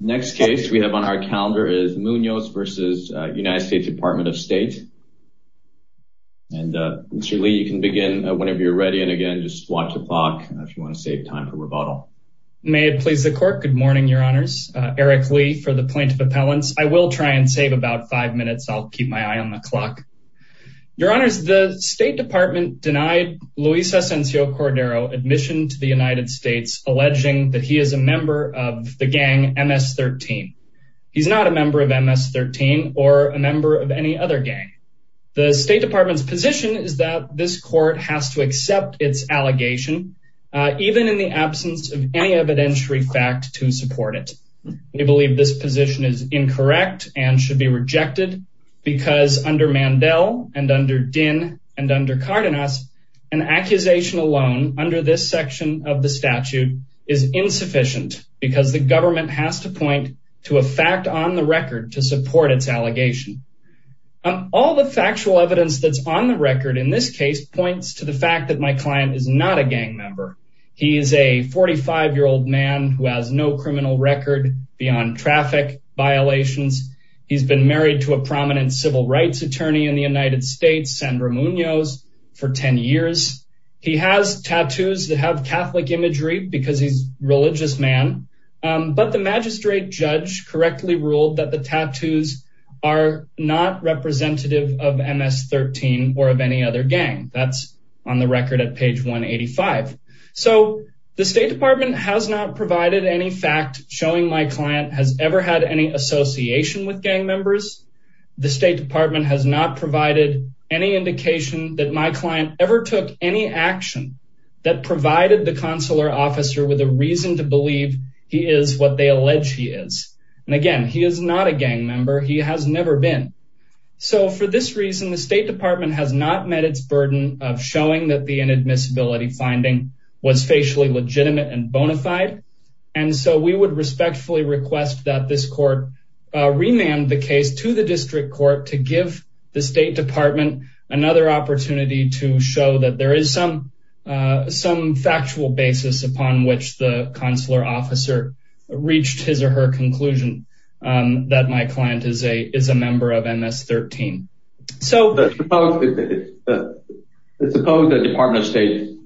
Next case we have on our calendar is Munoz versus United States Department of State. And Mr. Lee, you can begin whenever you're ready. And again, just watch the clock if you want to save time for rebuttal. May it please the court. Good morning, Your Honors. Eric Lee for the point of appellants. I will try and save about five minutes. I'll keep my eye on the clock. Your Honors, the State Department denied Luis Asensio Cordero admission to the United States, alleging that he is a member of the gang MS-13. He's not a member of MS-13 or a member of any other gang. The State Department's position is that this court has to accept its allegation, even in the absence of any evidentiary fact to support it. We believe this position is incorrect and should be rejected because under Mandel and under Dinh and under Cardenas, an accusation alone under this section of the statute is insufficient because the government has to point to a fact on the record to support its allegation. All the factual evidence that's on the record in this case points to the fact that my client is not a gang member. He is a 45-year-old man who has no criminal record beyond traffic violations. He's been married to a prominent civil rights attorney in the United States, Sandra Munoz, for 10 years. He has tattoos that have Catholic imagery because he's a religious man, but the magistrate judge correctly ruled that the tattoos are not representative of MS-13 or of any other gang. That's on the record at page 185. So the State Department has not provided any fact showing my client has ever had any association with gang members. The State Department has not provided any indication that my client ever took any action that provided the consular officer with a reason to believe he is what they allege he is. And again, he is not a gang member. He has never been. So for this reason, the State Department has not met its burden of showing that the inadmissibility finding was facially legitimate and bona fide. And so we would respectfully request that this court remand the case to the district court to give the State Department another opportunity to show that there is some factual basis upon which the consular officer reached his or her conclusion that my client is a member of MS-13. So suppose the Department of State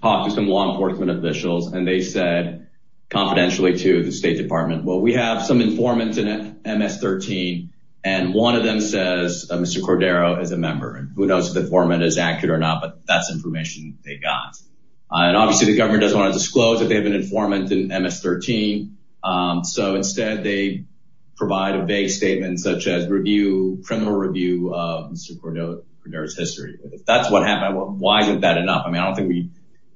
talked to some law enforcement officials and they said confidentially to the State Department, well we have some informants in MS-13 and one of them says Mr. Cordero is a member. And who knows if the informant is accurate or not, but that's information they got. And obviously the government doesn't want to disclose that they have an informant in MS-13. So instead they provide a vague statement such as criminal review of Mr. Cordero's history. If that's what happened, why isn't that enough? I mean, I don't think we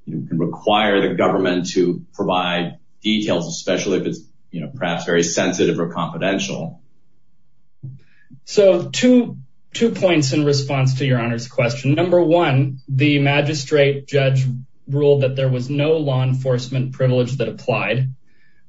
can require the government to provide details, especially if it's perhaps very sensitive or confidential. So two points in response to your Honor's question. Number one, the magistrate judge ruled that there was no law enforcement privilege that applied.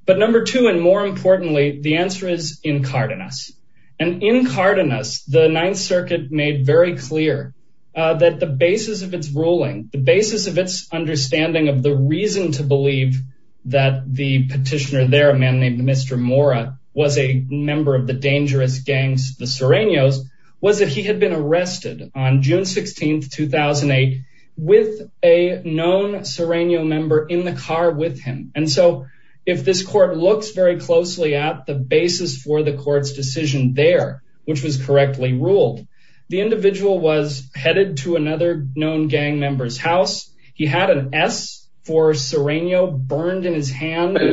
But number two, and more importantly, the answer is incardinous. And incardinous, the Ninth Circuit made very clear that the basis of its ruling, the basis of its understanding of the reason to believe that the petitioner there, a man named Mr. Mora, was a member of the dangerous gang, the Sereños, was that he had been arrested on June 16, 2008, with a known Sereño member in the car with him. And so if this court looks very closely at the basis for the court's decision there, which was correctly ruled, the individual was headed to another known gang member's house. He had an S for Sereño burned in his hand. But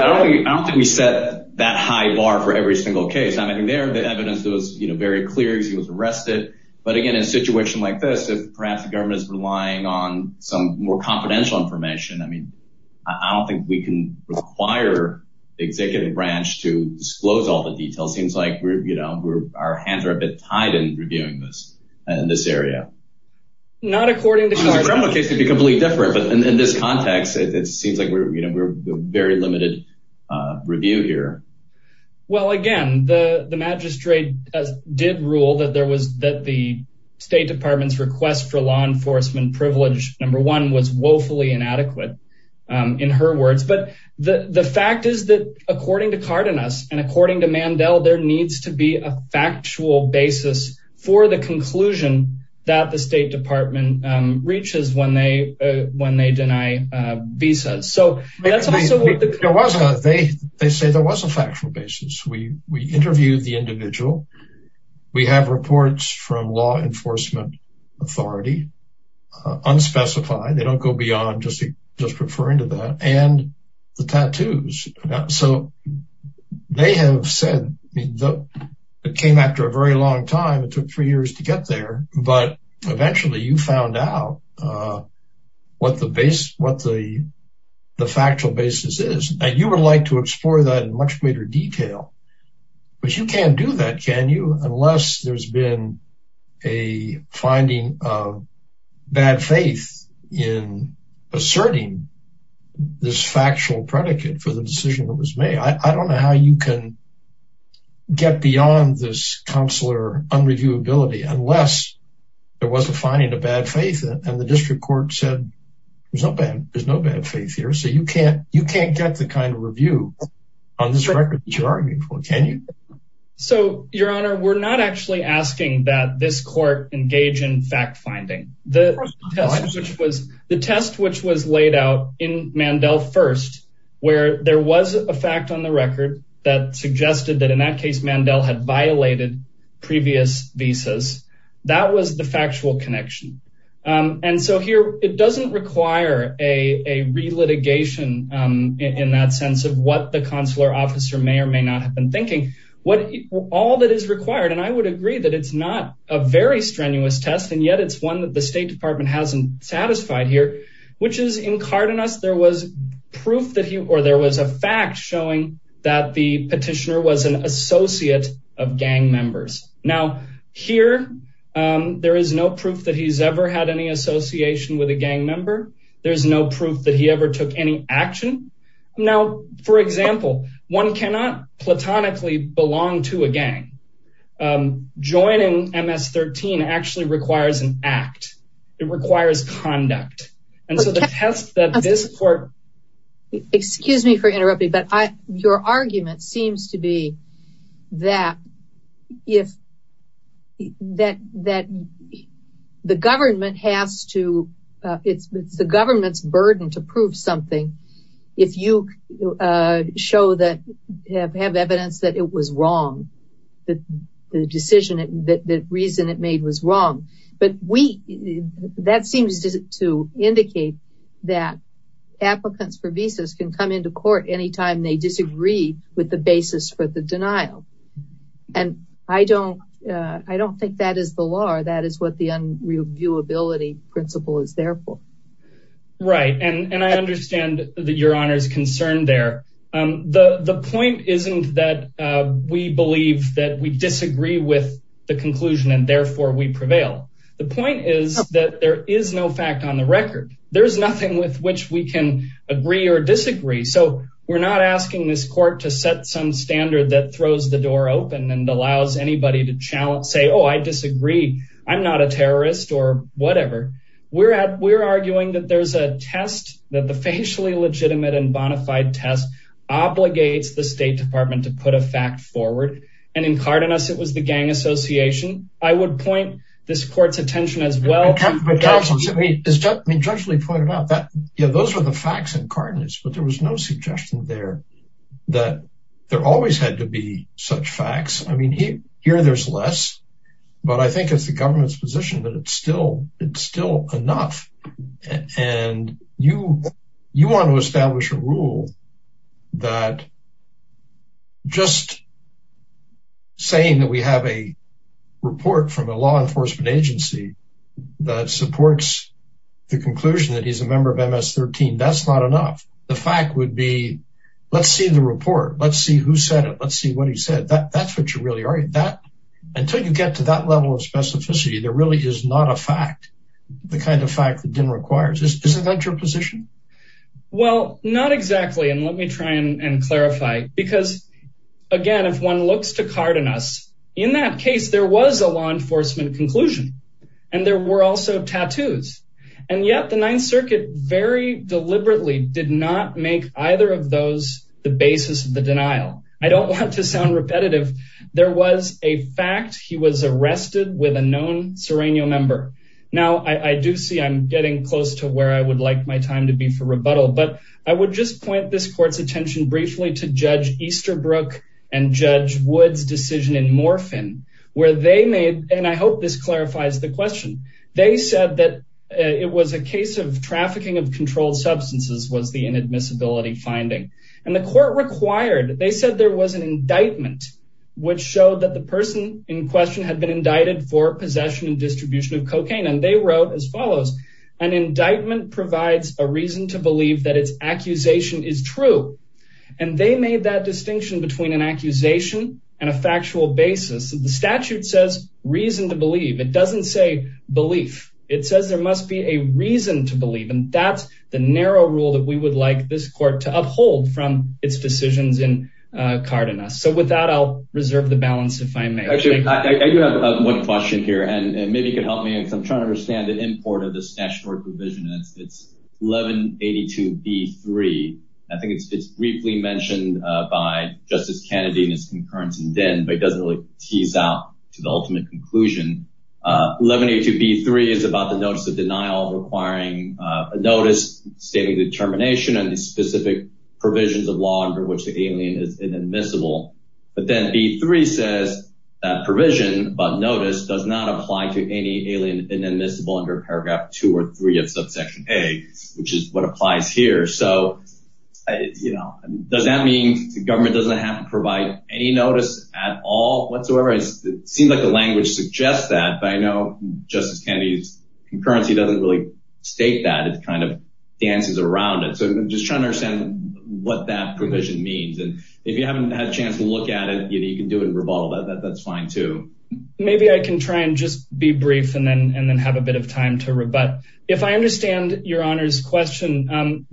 I don't think we set that high bar for every single case. I mean, there, the evidence was very clear, he was arrested. But again, in a situation like this, if perhaps the government is relying on some more confidential information, I mean, I don't think we can require the executive branch to disclose all the details. Seems like our hands are a bit tied in reviewing this, in this area. Not according to... Because the criminal case could be completely different. But in this context, it seems like we're, you know, we're very limited review here. Well, again, the magistrate did rule that there was, that the State Department's request for law enforcement privilege, number one, was woefully inadequate, in her words. But the fact is that, according to Cardenas, and according to Mandel, there needs to be a factual basis for the conclusion that the State Department reaches when they deny visas. So that's also... They say there was a factual basis. We interviewed the individual. We have reports from law enforcement authority, unspecified, they don't go beyond just referring to that, and the tattoos. So they have said, it came after a very long time, it took three years to get there. But eventually, you found out what the factual basis is, and you would like to explore that in much greater detail. But you can't do that, can you? Unless there's been a finding of bad faith in asserting this factual predicate for the decision that was made. I don't know how you can get beyond this consular unreviewability, unless there was a finding of bad faith, and the district court said, there's no bad faith here. So you can't get the kind of review on this record that you're arguing for, can you? So, Your Honor, we're not actually asking that this court engage in fact-finding. The test which was laid out in Mandel first, where there was a that in that case, Mandel had violated previous visas, that was the factual connection. And so here, it doesn't require a re-litigation in that sense of what the consular officer may or may not have been thinking. All that is required, and I would agree that it's not a very strenuous test, and yet it's one that the State Department hasn't satisfied here, which is in Cardenas, there was proof that he, or there was a fact showing that the petitioner was an associate of gang members. Now, here, there is no proof that he's ever had any association with a gang member. There's no proof that he ever took any action. Now, for example, one cannot platonically belong to a gang. Joining MS-13 actually requires an act. It requires conduct. And so the test that this court- that if, that the government has to, it's the government's burden to prove something if you show that, have evidence that it was wrong, that the decision, that the reason it made was wrong. But we, that seems to indicate that applicants for visas can come into court anytime they disagree with the basis for the denial. And I don't, I don't think that is the law, that is what the unreviewability principle is there for. Right, and I understand that your Honor's concerned there. The point isn't that we believe that we disagree with the conclusion and therefore we prevail. The point is that there is no fact on the record. There's nothing with which we can agree or disagree. So we're not asking this court to set some standard that throws the door open and allows anybody to challenge, say, oh, I disagree. I'm not a terrorist or whatever. We're at, we're arguing that there's a test, that the facially legitimate and bonafide test obligates the State Department to put a fact forward. And in Cardenas, it was the Gang Association. I would point this court's attention as well. I mean, Judge Lee pointed out that, yeah, those were the facts in Cardenas, but there was no suggestion there that there always had to be such facts. I mean, here there's less, but I think it's the government's position that it's still, it's still enough. And you, you want to establish a rule that just saying that we have a the conclusion that he's a member of MS-13, that's not enough. The fact would be, let's see the report. Let's see who said it. Let's see what he said. That that's what you really are. That, until you get to that level of specificity, there really is not a fact, the kind of fact that Din requires. Is that your position? Well, not exactly. And let me try and clarify, because again, if one looks to Cardenas, in that case, there was a law enforcement conclusion and there were also tattoos. And yet the Ninth Circuit very deliberately did not make either of those the basis of the denial. I don't want to sound repetitive. There was a fact he was arrested with a known Serenio member. Now I do see I'm getting close to where I would like my time to be for rebuttal, but I would just point this court's attention briefly to Judge Easterbrook and Judge Wood's decision in Morphin, where they made, and I hope this clarifies the question, they said that it was a case of trafficking of controlled substances was the inadmissibility finding. And the court required, they said there was an indictment which showed that the person in question had been indicted for possession and distribution of cocaine. And they wrote as follows, an indictment provides a reason to believe that its accusation is true. And they made that an accusation and a factual basis. The statute says reason to believe. It doesn't say belief. It says there must be a reason to believe. And that's the narrow rule that we would like this court to uphold from its decisions in Cardenas. So with that, I'll reserve the balance if I may. Actually, I do have one question here, and maybe you could help me. I'm trying to understand the import of this statutory provision. It's 1182B3. I think it's briefly mentioned by Justice Kennedy and his concurrence in Dinn, but it doesn't really tease out to the ultimate conclusion. 1182B3 is about the notice of denial requiring a notice stating the termination and the specific provisions of law under which the alien is inadmissible. But then B3 says that provision about notice does not apply to any alien inadmissible under paragraph two or three of subsection A, which is what applies here. So does that mean the government doesn't have to provide any notice at all whatsoever? It seems like the language suggests that, but I know Justice Kennedy's concurrency doesn't really state that. It kind of dances around it. So I'm just trying to understand what that provision means. And if you haven't had a chance to look at it, you can do it and rebuttal that. That's fine too. Maybe I can try and just be brief and then have a bit of time to rebut. If I understand Your Honor's question,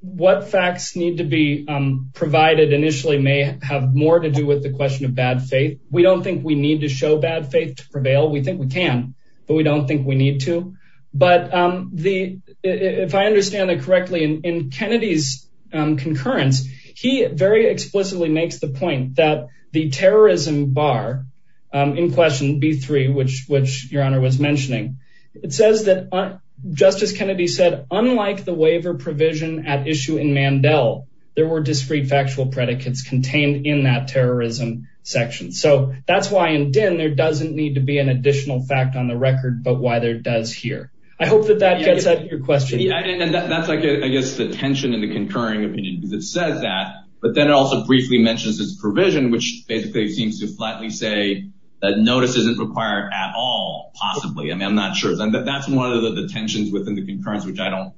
what facts need to be provided initially may have more to do with the question of bad faith. We don't think we need to show bad faith to prevail. We think we can, but we don't think we need to. But if I understand it correctly, in Kennedy's concurrence, he very explicitly makes the point that the terrorism bar in question B3, which Your Honor was mentioning, it says that Justice Kennedy said, unlike the waiver provision at issue in Mandel, there were discreet factual predicates contained in that terrorism section. So that's why in Din, there doesn't need to be an additional fact on the record, but why there does here. I hope that that gets at your question. And that's, I guess, the tension in the concurring opinion because it says that, but then it also briefly mentions this provision, which basically seems to flatly say that notice isn't required at all, possibly. I mean, I'm not sure. That's one of the tensions within the concurrence, which I don't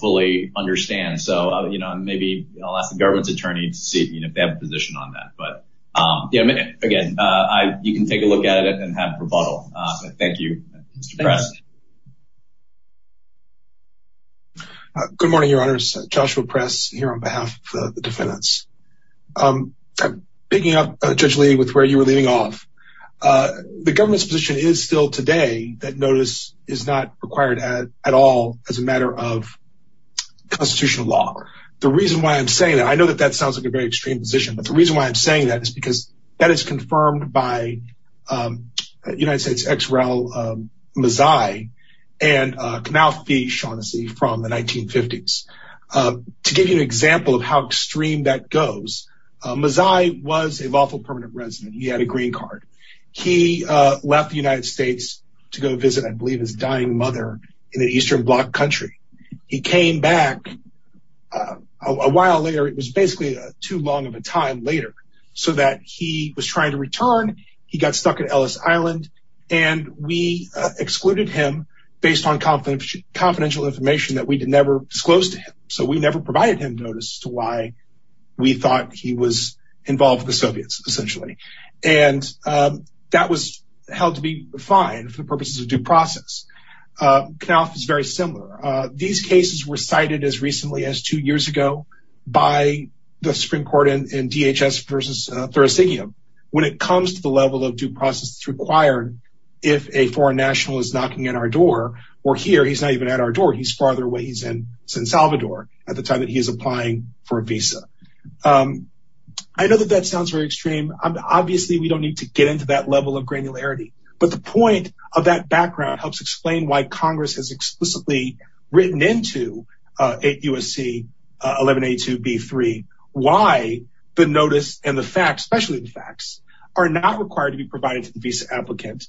fully understand. So maybe I'll ask the government's attorney to see if they have a position on that. But again, you can take a look at it and have rebuttal. Thank you, Mr. Press. Good morning, Your Honors. Joshua Press here on behalf of the defendants. Picking up, Judge Lee, with where you were leading off, the government's position is still today that notice is not required at all as a matter of constitutional law. The reason why I'm saying that, I know that that sounds like a very extreme position, but the reason why I'm saying that is because that is confirmed by United States ex-rel Mazzei and Knaufi Shaughnessy from the 1950s. To give you an example of how extreme that goes, Mazzei was a lawful permanent resident. He had a green card. He left the United States to go visit, I believe, his dying mother in the Eastern Bloc country. He came back a while later. It was basically too long of a time later so that he was trying to return. He got stuck at Ellis Island and we excluded him based on confidential information that we did never disclose to him. So we never provided him notice to why we thought he was involved with the Soviets, essentially. And that was held to be fine for due process. Knaufi is very similar. These cases were cited as recently as two years ago by the Supreme Court in DHS versus Thurasigium. When it comes to the level of due process that's required, if a foreign national is knocking at our door, or here, he's not even at our door, he's farther away. He's in San Salvador at the time that he is applying for a visa. I know that that sounds very extreme. Obviously, we don't need to get into that level of granularity, but the point of that background helps explain why Congress has explicitly written into 8 U.S.C. 1182b3 why the notice and the facts, especially the facts, are not required to be provided to the visa applicant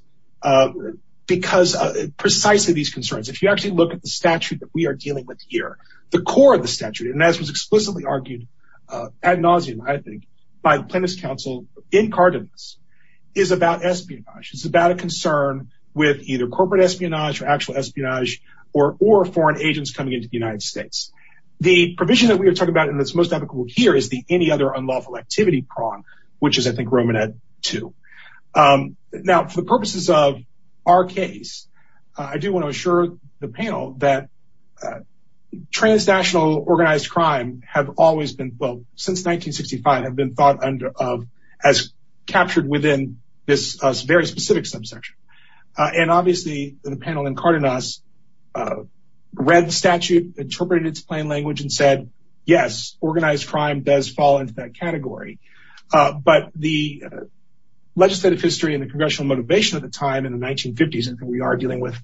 because of precisely these concerns. If you actually look at the statute that we are dealing with here, the core of the statute, and as was explicitly argued ad nauseum, I think, by the Plaintiffs' Council in Cardenas, is about espionage. It's about a concern with either corporate espionage or actual espionage or foreign agents coming into the United States. The provision that we are talking about and that's most applicable here is the any other unlawful activity prong, which is, I think, Romanet 2. Now, for the purposes of our case, I do want to assure the panel that transnational organized crime have always been, since 1965, have been thought of as captured within this very specific subsection. Obviously, the panel in Cardenas read the statute, interpreted its plain language, and said, yes, organized crime does fall into that category. But the legislative history and the congressional motivation at the time in the 1950s, and we are dealing with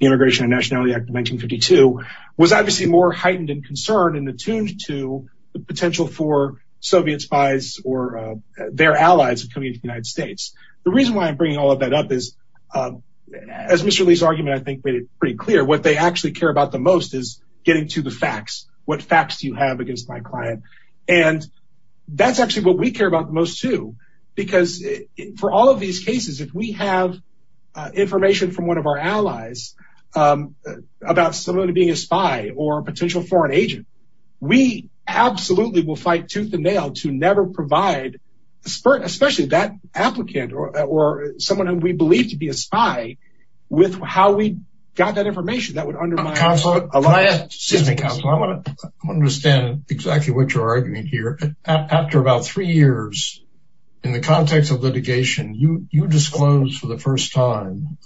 the Immigration and Nationality Act 1952, was obviously more heightened in concern and attuned to the potential for Soviet spies or their allies coming into the United States. The reason why I'm bringing all of that up is, as Mr. Lee's argument, I think, made it pretty clear, what they actually care about the most is getting to the facts. What facts do you have against my client? And that's actually what we care about the most, too, because for all of these cases, if we have information from one of our allies, about someone being a spy or a potential foreign agent, we absolutely will fight tooth and nail to never provide, especially that applicant or someone who we believe to be a spy, with how we got that information that would undermine... Counselor, can I ask... Excuse me, Counselor, I want to understand exactly what you're arguing here. After about three years, in the context of litigation, you disclosed for the first time,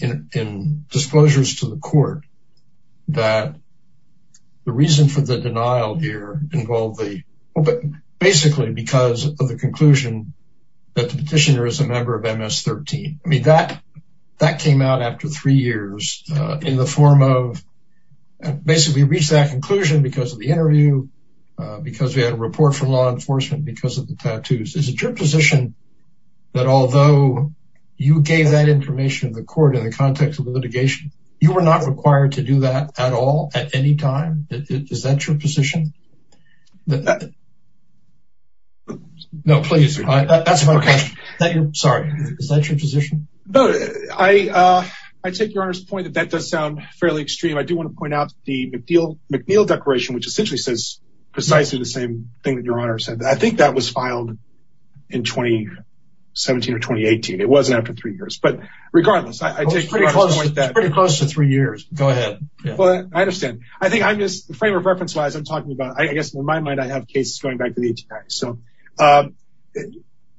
in disclosures to the court, that the reason for the denial here involved the... Basically, because of the conclusion that the petitioner is a member of MS-13. I mean, that came out after three years, in the form of... Basically, we reached that conclusion because of the interview, because we had a report from law enforcement, because of the tattoos. Is it your position that although you gave that information to the court in the context of litigation, you were not required to do that at all, at any time? Is that your position? No, please. That's my question. Sorry. Is that your position? I take your Honor's point that that does sound fairly extreme. I do want to point out the McNeil Declaration, which essentially says precisely the same thing that Your Honor said. I think that was filed in 2017 or 2018. It wasn't after three years. But regardless, I take your Honor's point that... It's pretty close to three years. Go ahead. Well, I understand. I think I'm just... Frame of reference wise, I'm talking about... I guess, in my mind, I have cases going back to the 1890s. So,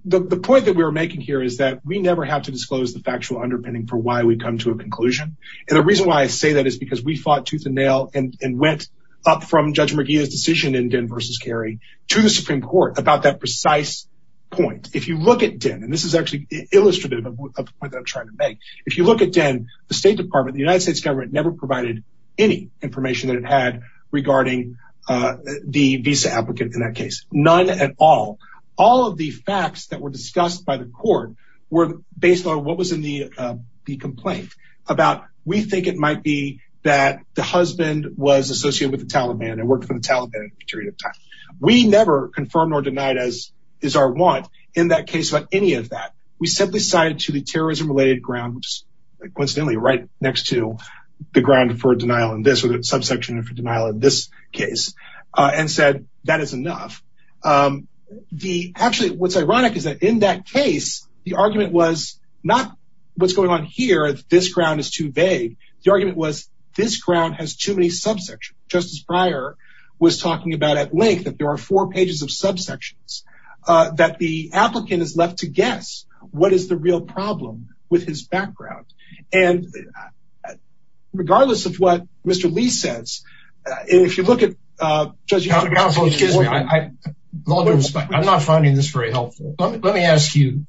the point that we're making here is that we never have to disclose the factual underpinning for why we come to a conclusion. And the reason why I say that is because we fought tooth and nail and went up from Judge McNeil's decision in Den v. Kerry to the Supreme Court about that precise point. If you look at Den, and this is actually illustrative of the point that I'm trying to make. If you look at Den, the State Department, the United States government never provided any information that it had regarding the visa applicant in that case. None at all. All of the facts that were discussed by the court were based on what was in the complaint about, we think it might be that the husband was associated with the Taliban and worked for the Taliban for a period of time. We never confirmed or denied as is our want in that case about any of that. We simply cited to the terrorism-related grounds, coincidentally, right next to the ground for denial in this or the subsection for denial in this case, and said, that is enough. Actually, what's ironic is that in that case, the argument was not what's going on here, this ground is too vague. The argument was this ground has too many subsections. Justice Breyer was talking about at length that there are four pages of subsections, that the applicant is left to guess what is the real problem with his background. And regardless of what Mr. Lee says, if you look at- Counsel, excuse me, I'm not finding this very helpful. Let me ask you,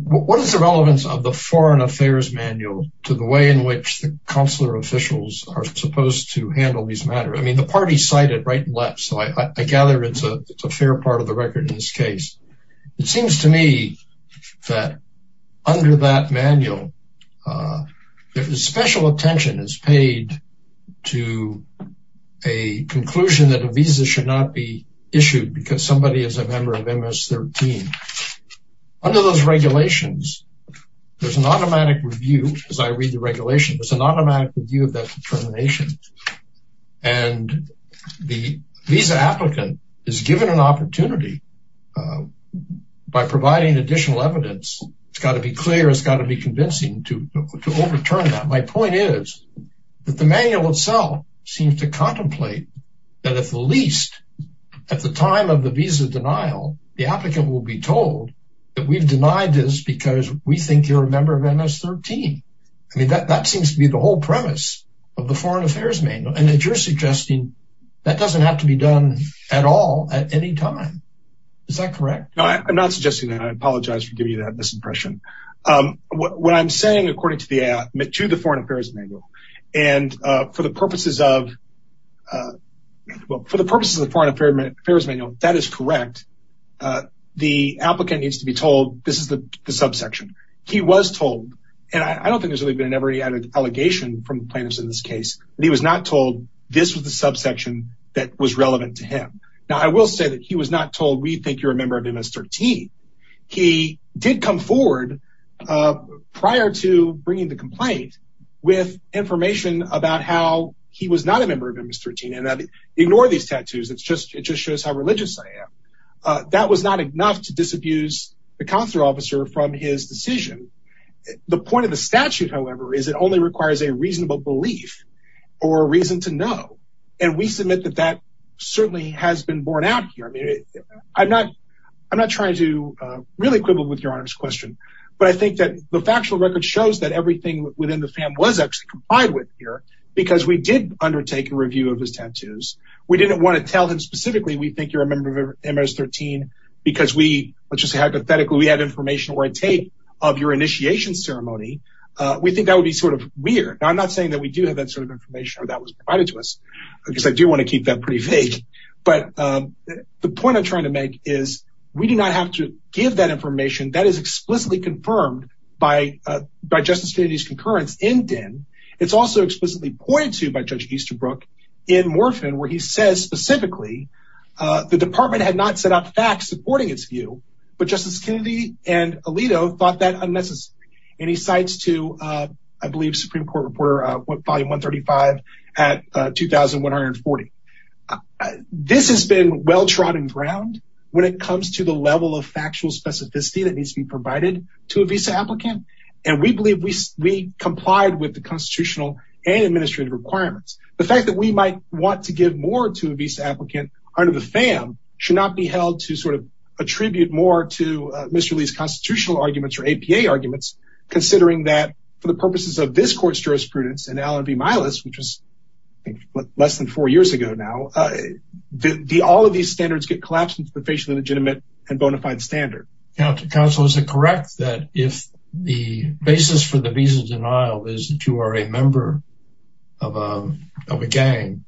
what is the relevance of the foreign affairs manual to the way in which the consular officials are supposed to handle these matters? I mean, the party cited right and left, so I gather it's a fair part of the record in this case. It seems to me that under that manual, there is special attention is paid to a conclusion that a visa should not be issued because somebody is a member of MS-13. Under those regulations, there's an automatic review, as I read the regulation, there's an automatic review of that determination. And the visa applicant is given an opportunity by providing additional evidence. It's got to be clear, it's got to be convincing to overturn that. My point is that the manual itself seems to contemplate that at the least, at the time of the visa denial, the applicant will be told that we've denied this because we think you're a member of MS-13. I mean, that seems to be the whole premise of the foreign affairs manual. And that you're suggesting that doesn't have to be done at all at any time. Is that correct? No, I'm not suggesting that. I apologize for giving you that misimpression. What I'm saying, according to the foreign affairs manual, and for the purposes of, well, for the purposes of the foreign affairs manual, that is correct. The applicant needs to be told this is the subsection. He was told, and I don't think there's really been an ever added allegation from plaintiffs in this case, but he was not told this was the subsection that was relevant to him. Now, I will say that he was not told we think you're a member of MS-13. He did come forward prior to bringing the complaint with information about how he was not a member of MS-13. And ignore these tattoos. It's just, it just shows how religious I am. That was not enough to disabuse the consular officer from his decision. The point of the statute, however, is it only requires a reasonable belief or a reason to know. And we I'm not trying to really quibble with your honor's question, but I think that the factual record shows that everything within the fam was actually complied with here because we did undertake a review of his tattoos. We didn't want to tell him specifically, we think you're a member of MS-13 because we, let's just say, hypothetically, we had information where I take of your initiation ceremony. We think that would be sort of weird. I'm not saying that we do have that sort of information or that was provided to us because I do want to keep that pretty vague. But the point I'm trying to make is we do not have to give that information that is explicitly confirmed by Justice Kennedy's concurrence in Din. It's also explicitly pointed to by Judge Easterbrook in Morphin, where he says specifically, the department had not set up facts supporting its view, but Justice Kennedy and Alito thought that unnecessary. And he cites to, I believe, Supreme Court reporter volume 135 at 2140. This has been well trodden ground when it comes to the level of factual specificity that needs to be provided to a visa applicant. And we believe we complied with the constitutional and administrative requirements. The fact that we might want to give more to a visa applicant under the fam should not be held to sort of attribute more to Mr. Lee's court's jurisprudence and Allen v. Milas, which was less than four years ago now. All of these standards get collapsed into the facially legitimate and bona fide standard. Counsel, is it correct that if the basis for the visa denial is that you are a member of a gang,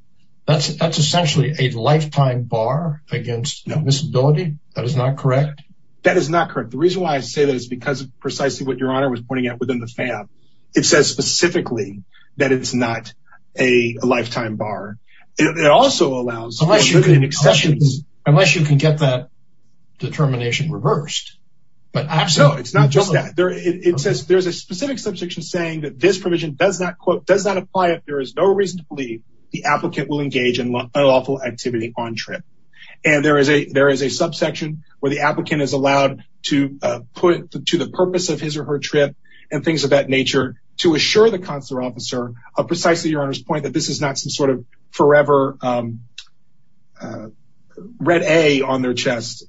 that's essentially a lifetime bar against miscibility? That is not correct? That is not correct. The reason why I say that is because of precisely what your honor was pointing out within the fam. It says specifically that it's not a lifetime bar. It also allows... Unless you can get that determination reversed. But no, it's not just that. It says there's a specific subsection saying that this provision does not apply if there is no reason to believe the applicant will engage in lawful activity on trip. And there is a subsection where the applicant is allowed to put to the purpose of his or her trip and things of that nature to assure the consular officer of precisely your honor's point that this is not some sort of forever red A on their chest.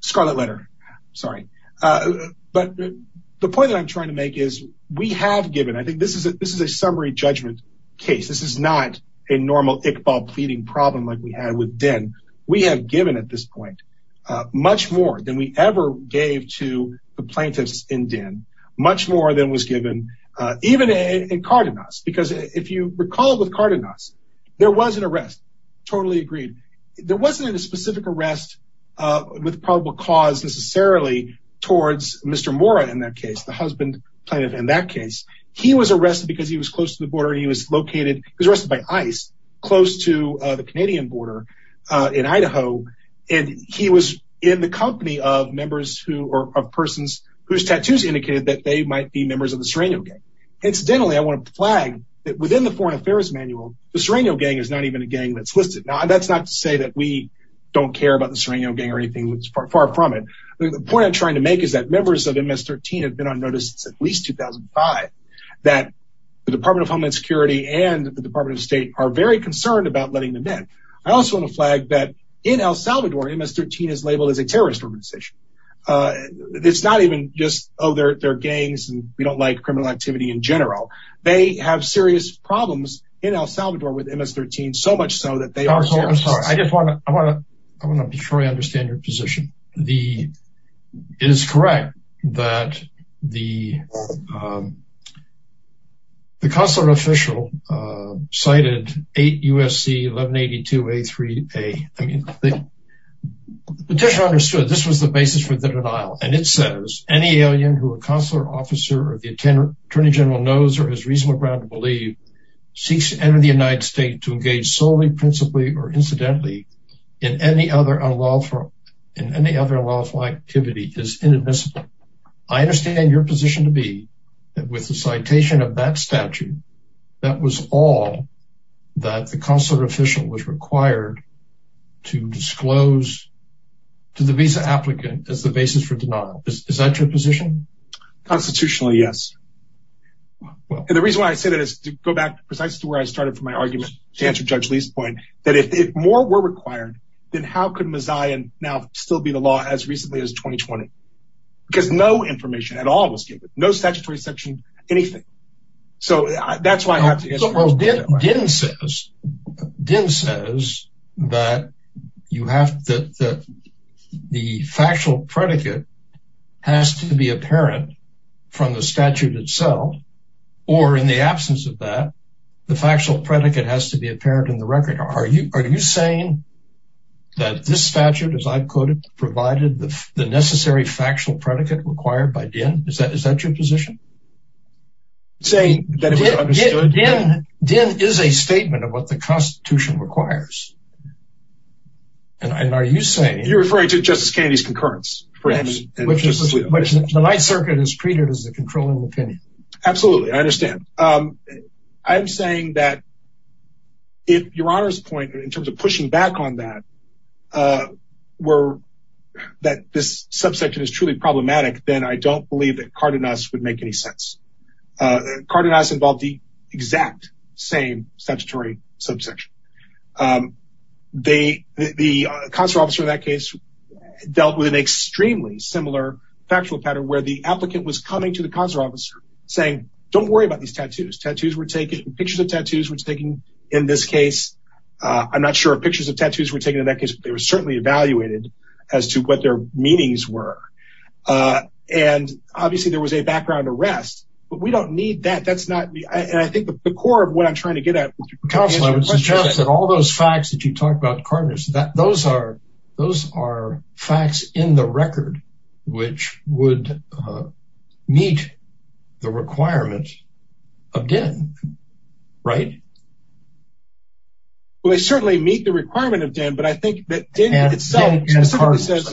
Scarlet letter, sorry. But the point that I'm trying to make is we have given, I think this is a summary judgment case. This is not a normal Iqbal pleading problem like we had with Din. We have given at this point much more than we ever gave to the plaintiffs in Din. Much more than was given even in Cardenas. Because if you recall with Cardenas, there was an arrest. Totally agreed. There wasn't a specific arrest with probable cause necessarily towards Mr. Mora in that case, the husband plaintiff in that case. He was arrested because he was close to the border and he was located. He was arrested by ICE close to the Canadian border in Idaho. And he was in the company of members who are persons whose tattoos indicated that they might be members of the Sereno gang. Incidentally, I want to flag that within the foreign affairs manual, the Sereno gang is not even a gang that's listed. Now that's not to say that we don't care about the Sereno gang or anything that's far from it. The point I'm trying to make is that members of MS-13 have been on notice since at least 2005 that the Department of Homeland Security and the Department of State are very concerned about letting them in. I also want to flag that in El Salvador, MS-13 is labeled as a terrorist organization. It's not even just, oh, they're gangs and we don't like criminal activity in general. They have serious problems in El Salvador with MS-13 so much so that they are terrorists. I just want to make sure I understand your position. It is correct that the consular official cited 8 U.S.C. 1182A3A. The petitioner understood this was the basis for the denial. And it says, any alien who a consular officer or the attorney general knows or has reasonable ground to believe seeks to enter the United States to engage solely principally or incidentally in any other unlawful activity is inadmissible. I understand your position to be that with the citation of that statute, that was all that the consular official was required to disclose to the visa applicant as the basis for denial. Is that your position? Constitutionally, yes. And the reason why I say that is to go back precisely to where I started from my argument to answer Judge Lee's point, that if more were required, then how could Mazayan now still be the law as recently as 2020? Because no information at all was given, no statutory section, anything. So that's why I have to answer. Din says that the factual predicate has to be apparent from the statute itself, or in the absence of that, the factual predicate has to be apparent in the record. Are you saying that this statute, as I've quoted, provided the necessary factual predicate required by Din? Is that your position? Din is a statement of what the Constitution requires. You're referring to Justice Kennedy's concurrence. The Ninth Circuit is treated as the controlling opinion. Absolutely. I understand. I'm saying that if Your Honor's point in terms of pushing back on that, were that this subsection is truly problematic, then I don't believe that Cardenas would make any sense. Cardenas involved the exact same statutory subsection. The consular officer in that case dealt with an extremely similar factual pattern where the applicant was coming to the consular officer saying, don't worry about these tattoos. Pictures of tattoos were taken in this case. I'm not sure if pictures of tattoos were taken in that case, but they were certainly evaluated as to what their meanings were. And obviously there was a background arrest, but we don't need that. That's not me. And I think the core of what I'm trying to get at. All those facts that you talked about, Cardenas, those are facts in the record, which would meet the requirement of DEN, right? Well, they certainly meet the requirement of DEN, but I think that DEN itself specifically says...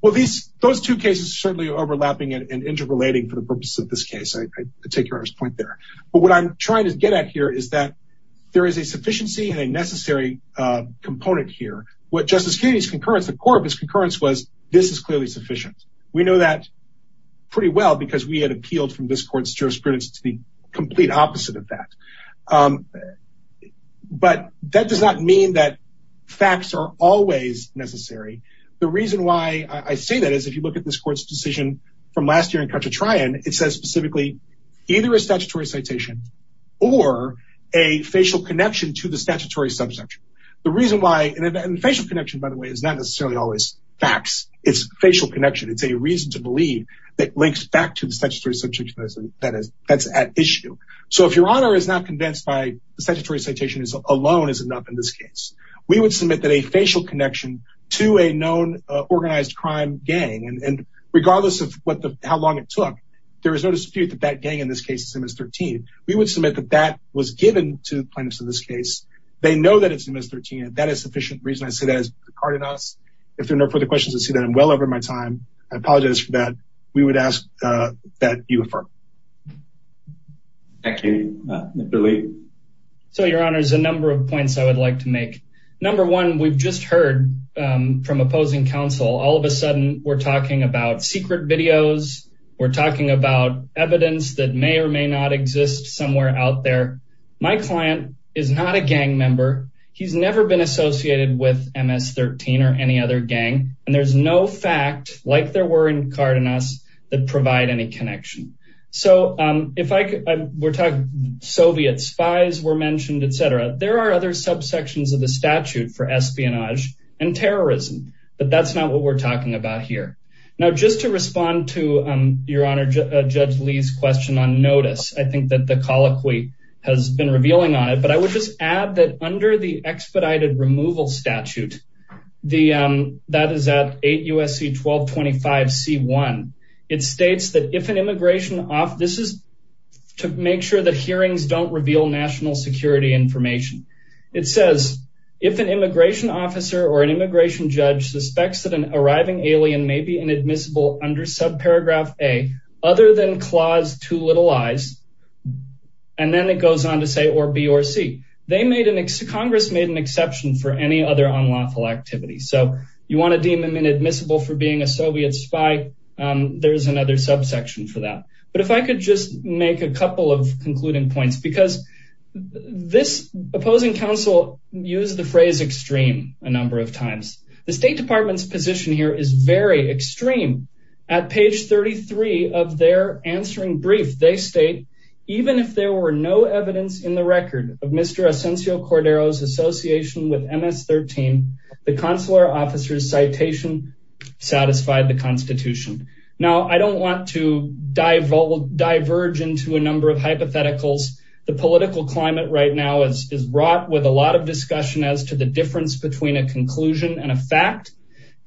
Well, those two cases are certainly overlapping and interrelating for the purposes of this case. I take Your Honor's point there. But what I'm trying to get at here is that there is a sufficiency and a necessary component here. What Justice Kennedy's concurrence, the core of his concurrence was, this is clearly sufficient. We know that pretty well because we had appealed from this court's jurisprudence to the complete opposite of that. But that does not mean that facts are always necessary. The reason why I say that is if you look at this court's decision from last year in Cachatrayan, it says specifically either a statutory citation or a facial connection to the statutory subsection. The reason why... And facial connection, by the way, is not necessarily always facts. It's facial connection. It's a reason to believe that links back to the statutory subsection that's at issue. So if Your Honor is not convinced by the statutory citation alone is enough in this case, we would submit that a facial connection to a known organized crime gang, and regardless of how long it took, there is no dispute that that gang in this case is MS-13. We would submit that that was given to plaintiffs in this case. They know that it's MS-13, and that is sufficient reason I say that has departed us. If there are no further questions, I see that I'm well over my time. I apologize for that. We would ask that you affirm. Thank you. Mr. Lee. So Your Honor, there's a number of points I would like to make. Number one, we've just heard from opposing counsel, all of a sudden we're talking about secret videos. We're talking about evidence that may or may not exist somewhere out there. My client is not a gang member. He's never been associated with MS-13 or any other gang, and there's no fact, like there were in Cardenas, that provide any connection. So if we're talking Soviet spies were mentioned, etc., there are other subsections of the statute for espionage and terrorism, but that's not what we're talking about here. Now, just to respond to Your Honor, Judge Lee's question on notice, I think that the colloquy has been revealing on it, but I would just add that under the expedited removal statute, that is at 8 U.S.C. 1225 C.1, it states that if an immigration officer, this is to make sure that hearings don't reveal national security information. It says, if an immigration officer or an immigration judge suspects that an arriving alien may be inadmissible under subparagraph A, other than clause two little I's, and then it goes on to say or B or C. Congress made an exception for any other unlawful activity. So you want to deem him inadmissible for being a Soviet spy, there's another subsection for that. But if I could just make a couple of concluding points, because this opposing counsel used the phrase extreme a number of times. The State Department's position here is very extreme. At page 33 of their answering brief, they state, even if there were no evidence in the record of Mr. Asencio Cordero's association with MS-13, the consular officer's citation satisfied the constitution. Now, I don't want to diverge into a number of hypotheticals. The political climate right now is wrought with a lot of discussion as to the difference between a conclusion and a fact.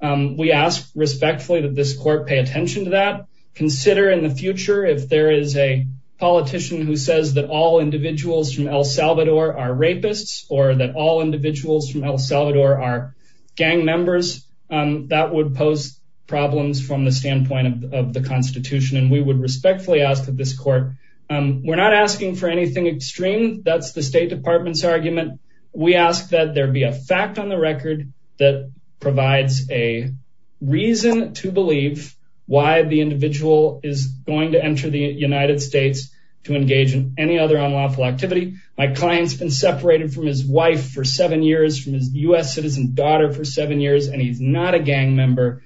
We ask respectfully that this court pay attention to that. Consider in the future, if there is a politician who says that all individuals from El Salvador are rapists, or that all individuals from El Salvador are gang members, that would pose problems from the standpoint of the constitution. And we would respectfully ask that this court, we're not asking for anything extreme. That's the State Department's argument. We ask that there be a fact on the record that provides a reason to believe why the individual is going to enter the United States to engage in any other unlawful activity. My client's been separated from his wife for seven years, from his U.S. citizen daughter for seven years, and he's not a gang member.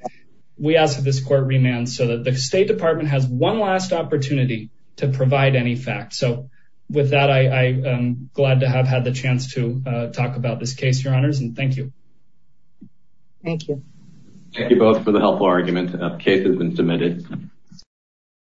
We ask that this court remand so that the State Department has one last opportunity to provide any fact. So with that, I am glad to have had the chance to talk about this case, Your Honors, and thank you. Thank you. Thank you both for the helpful argument. The case has been submitted.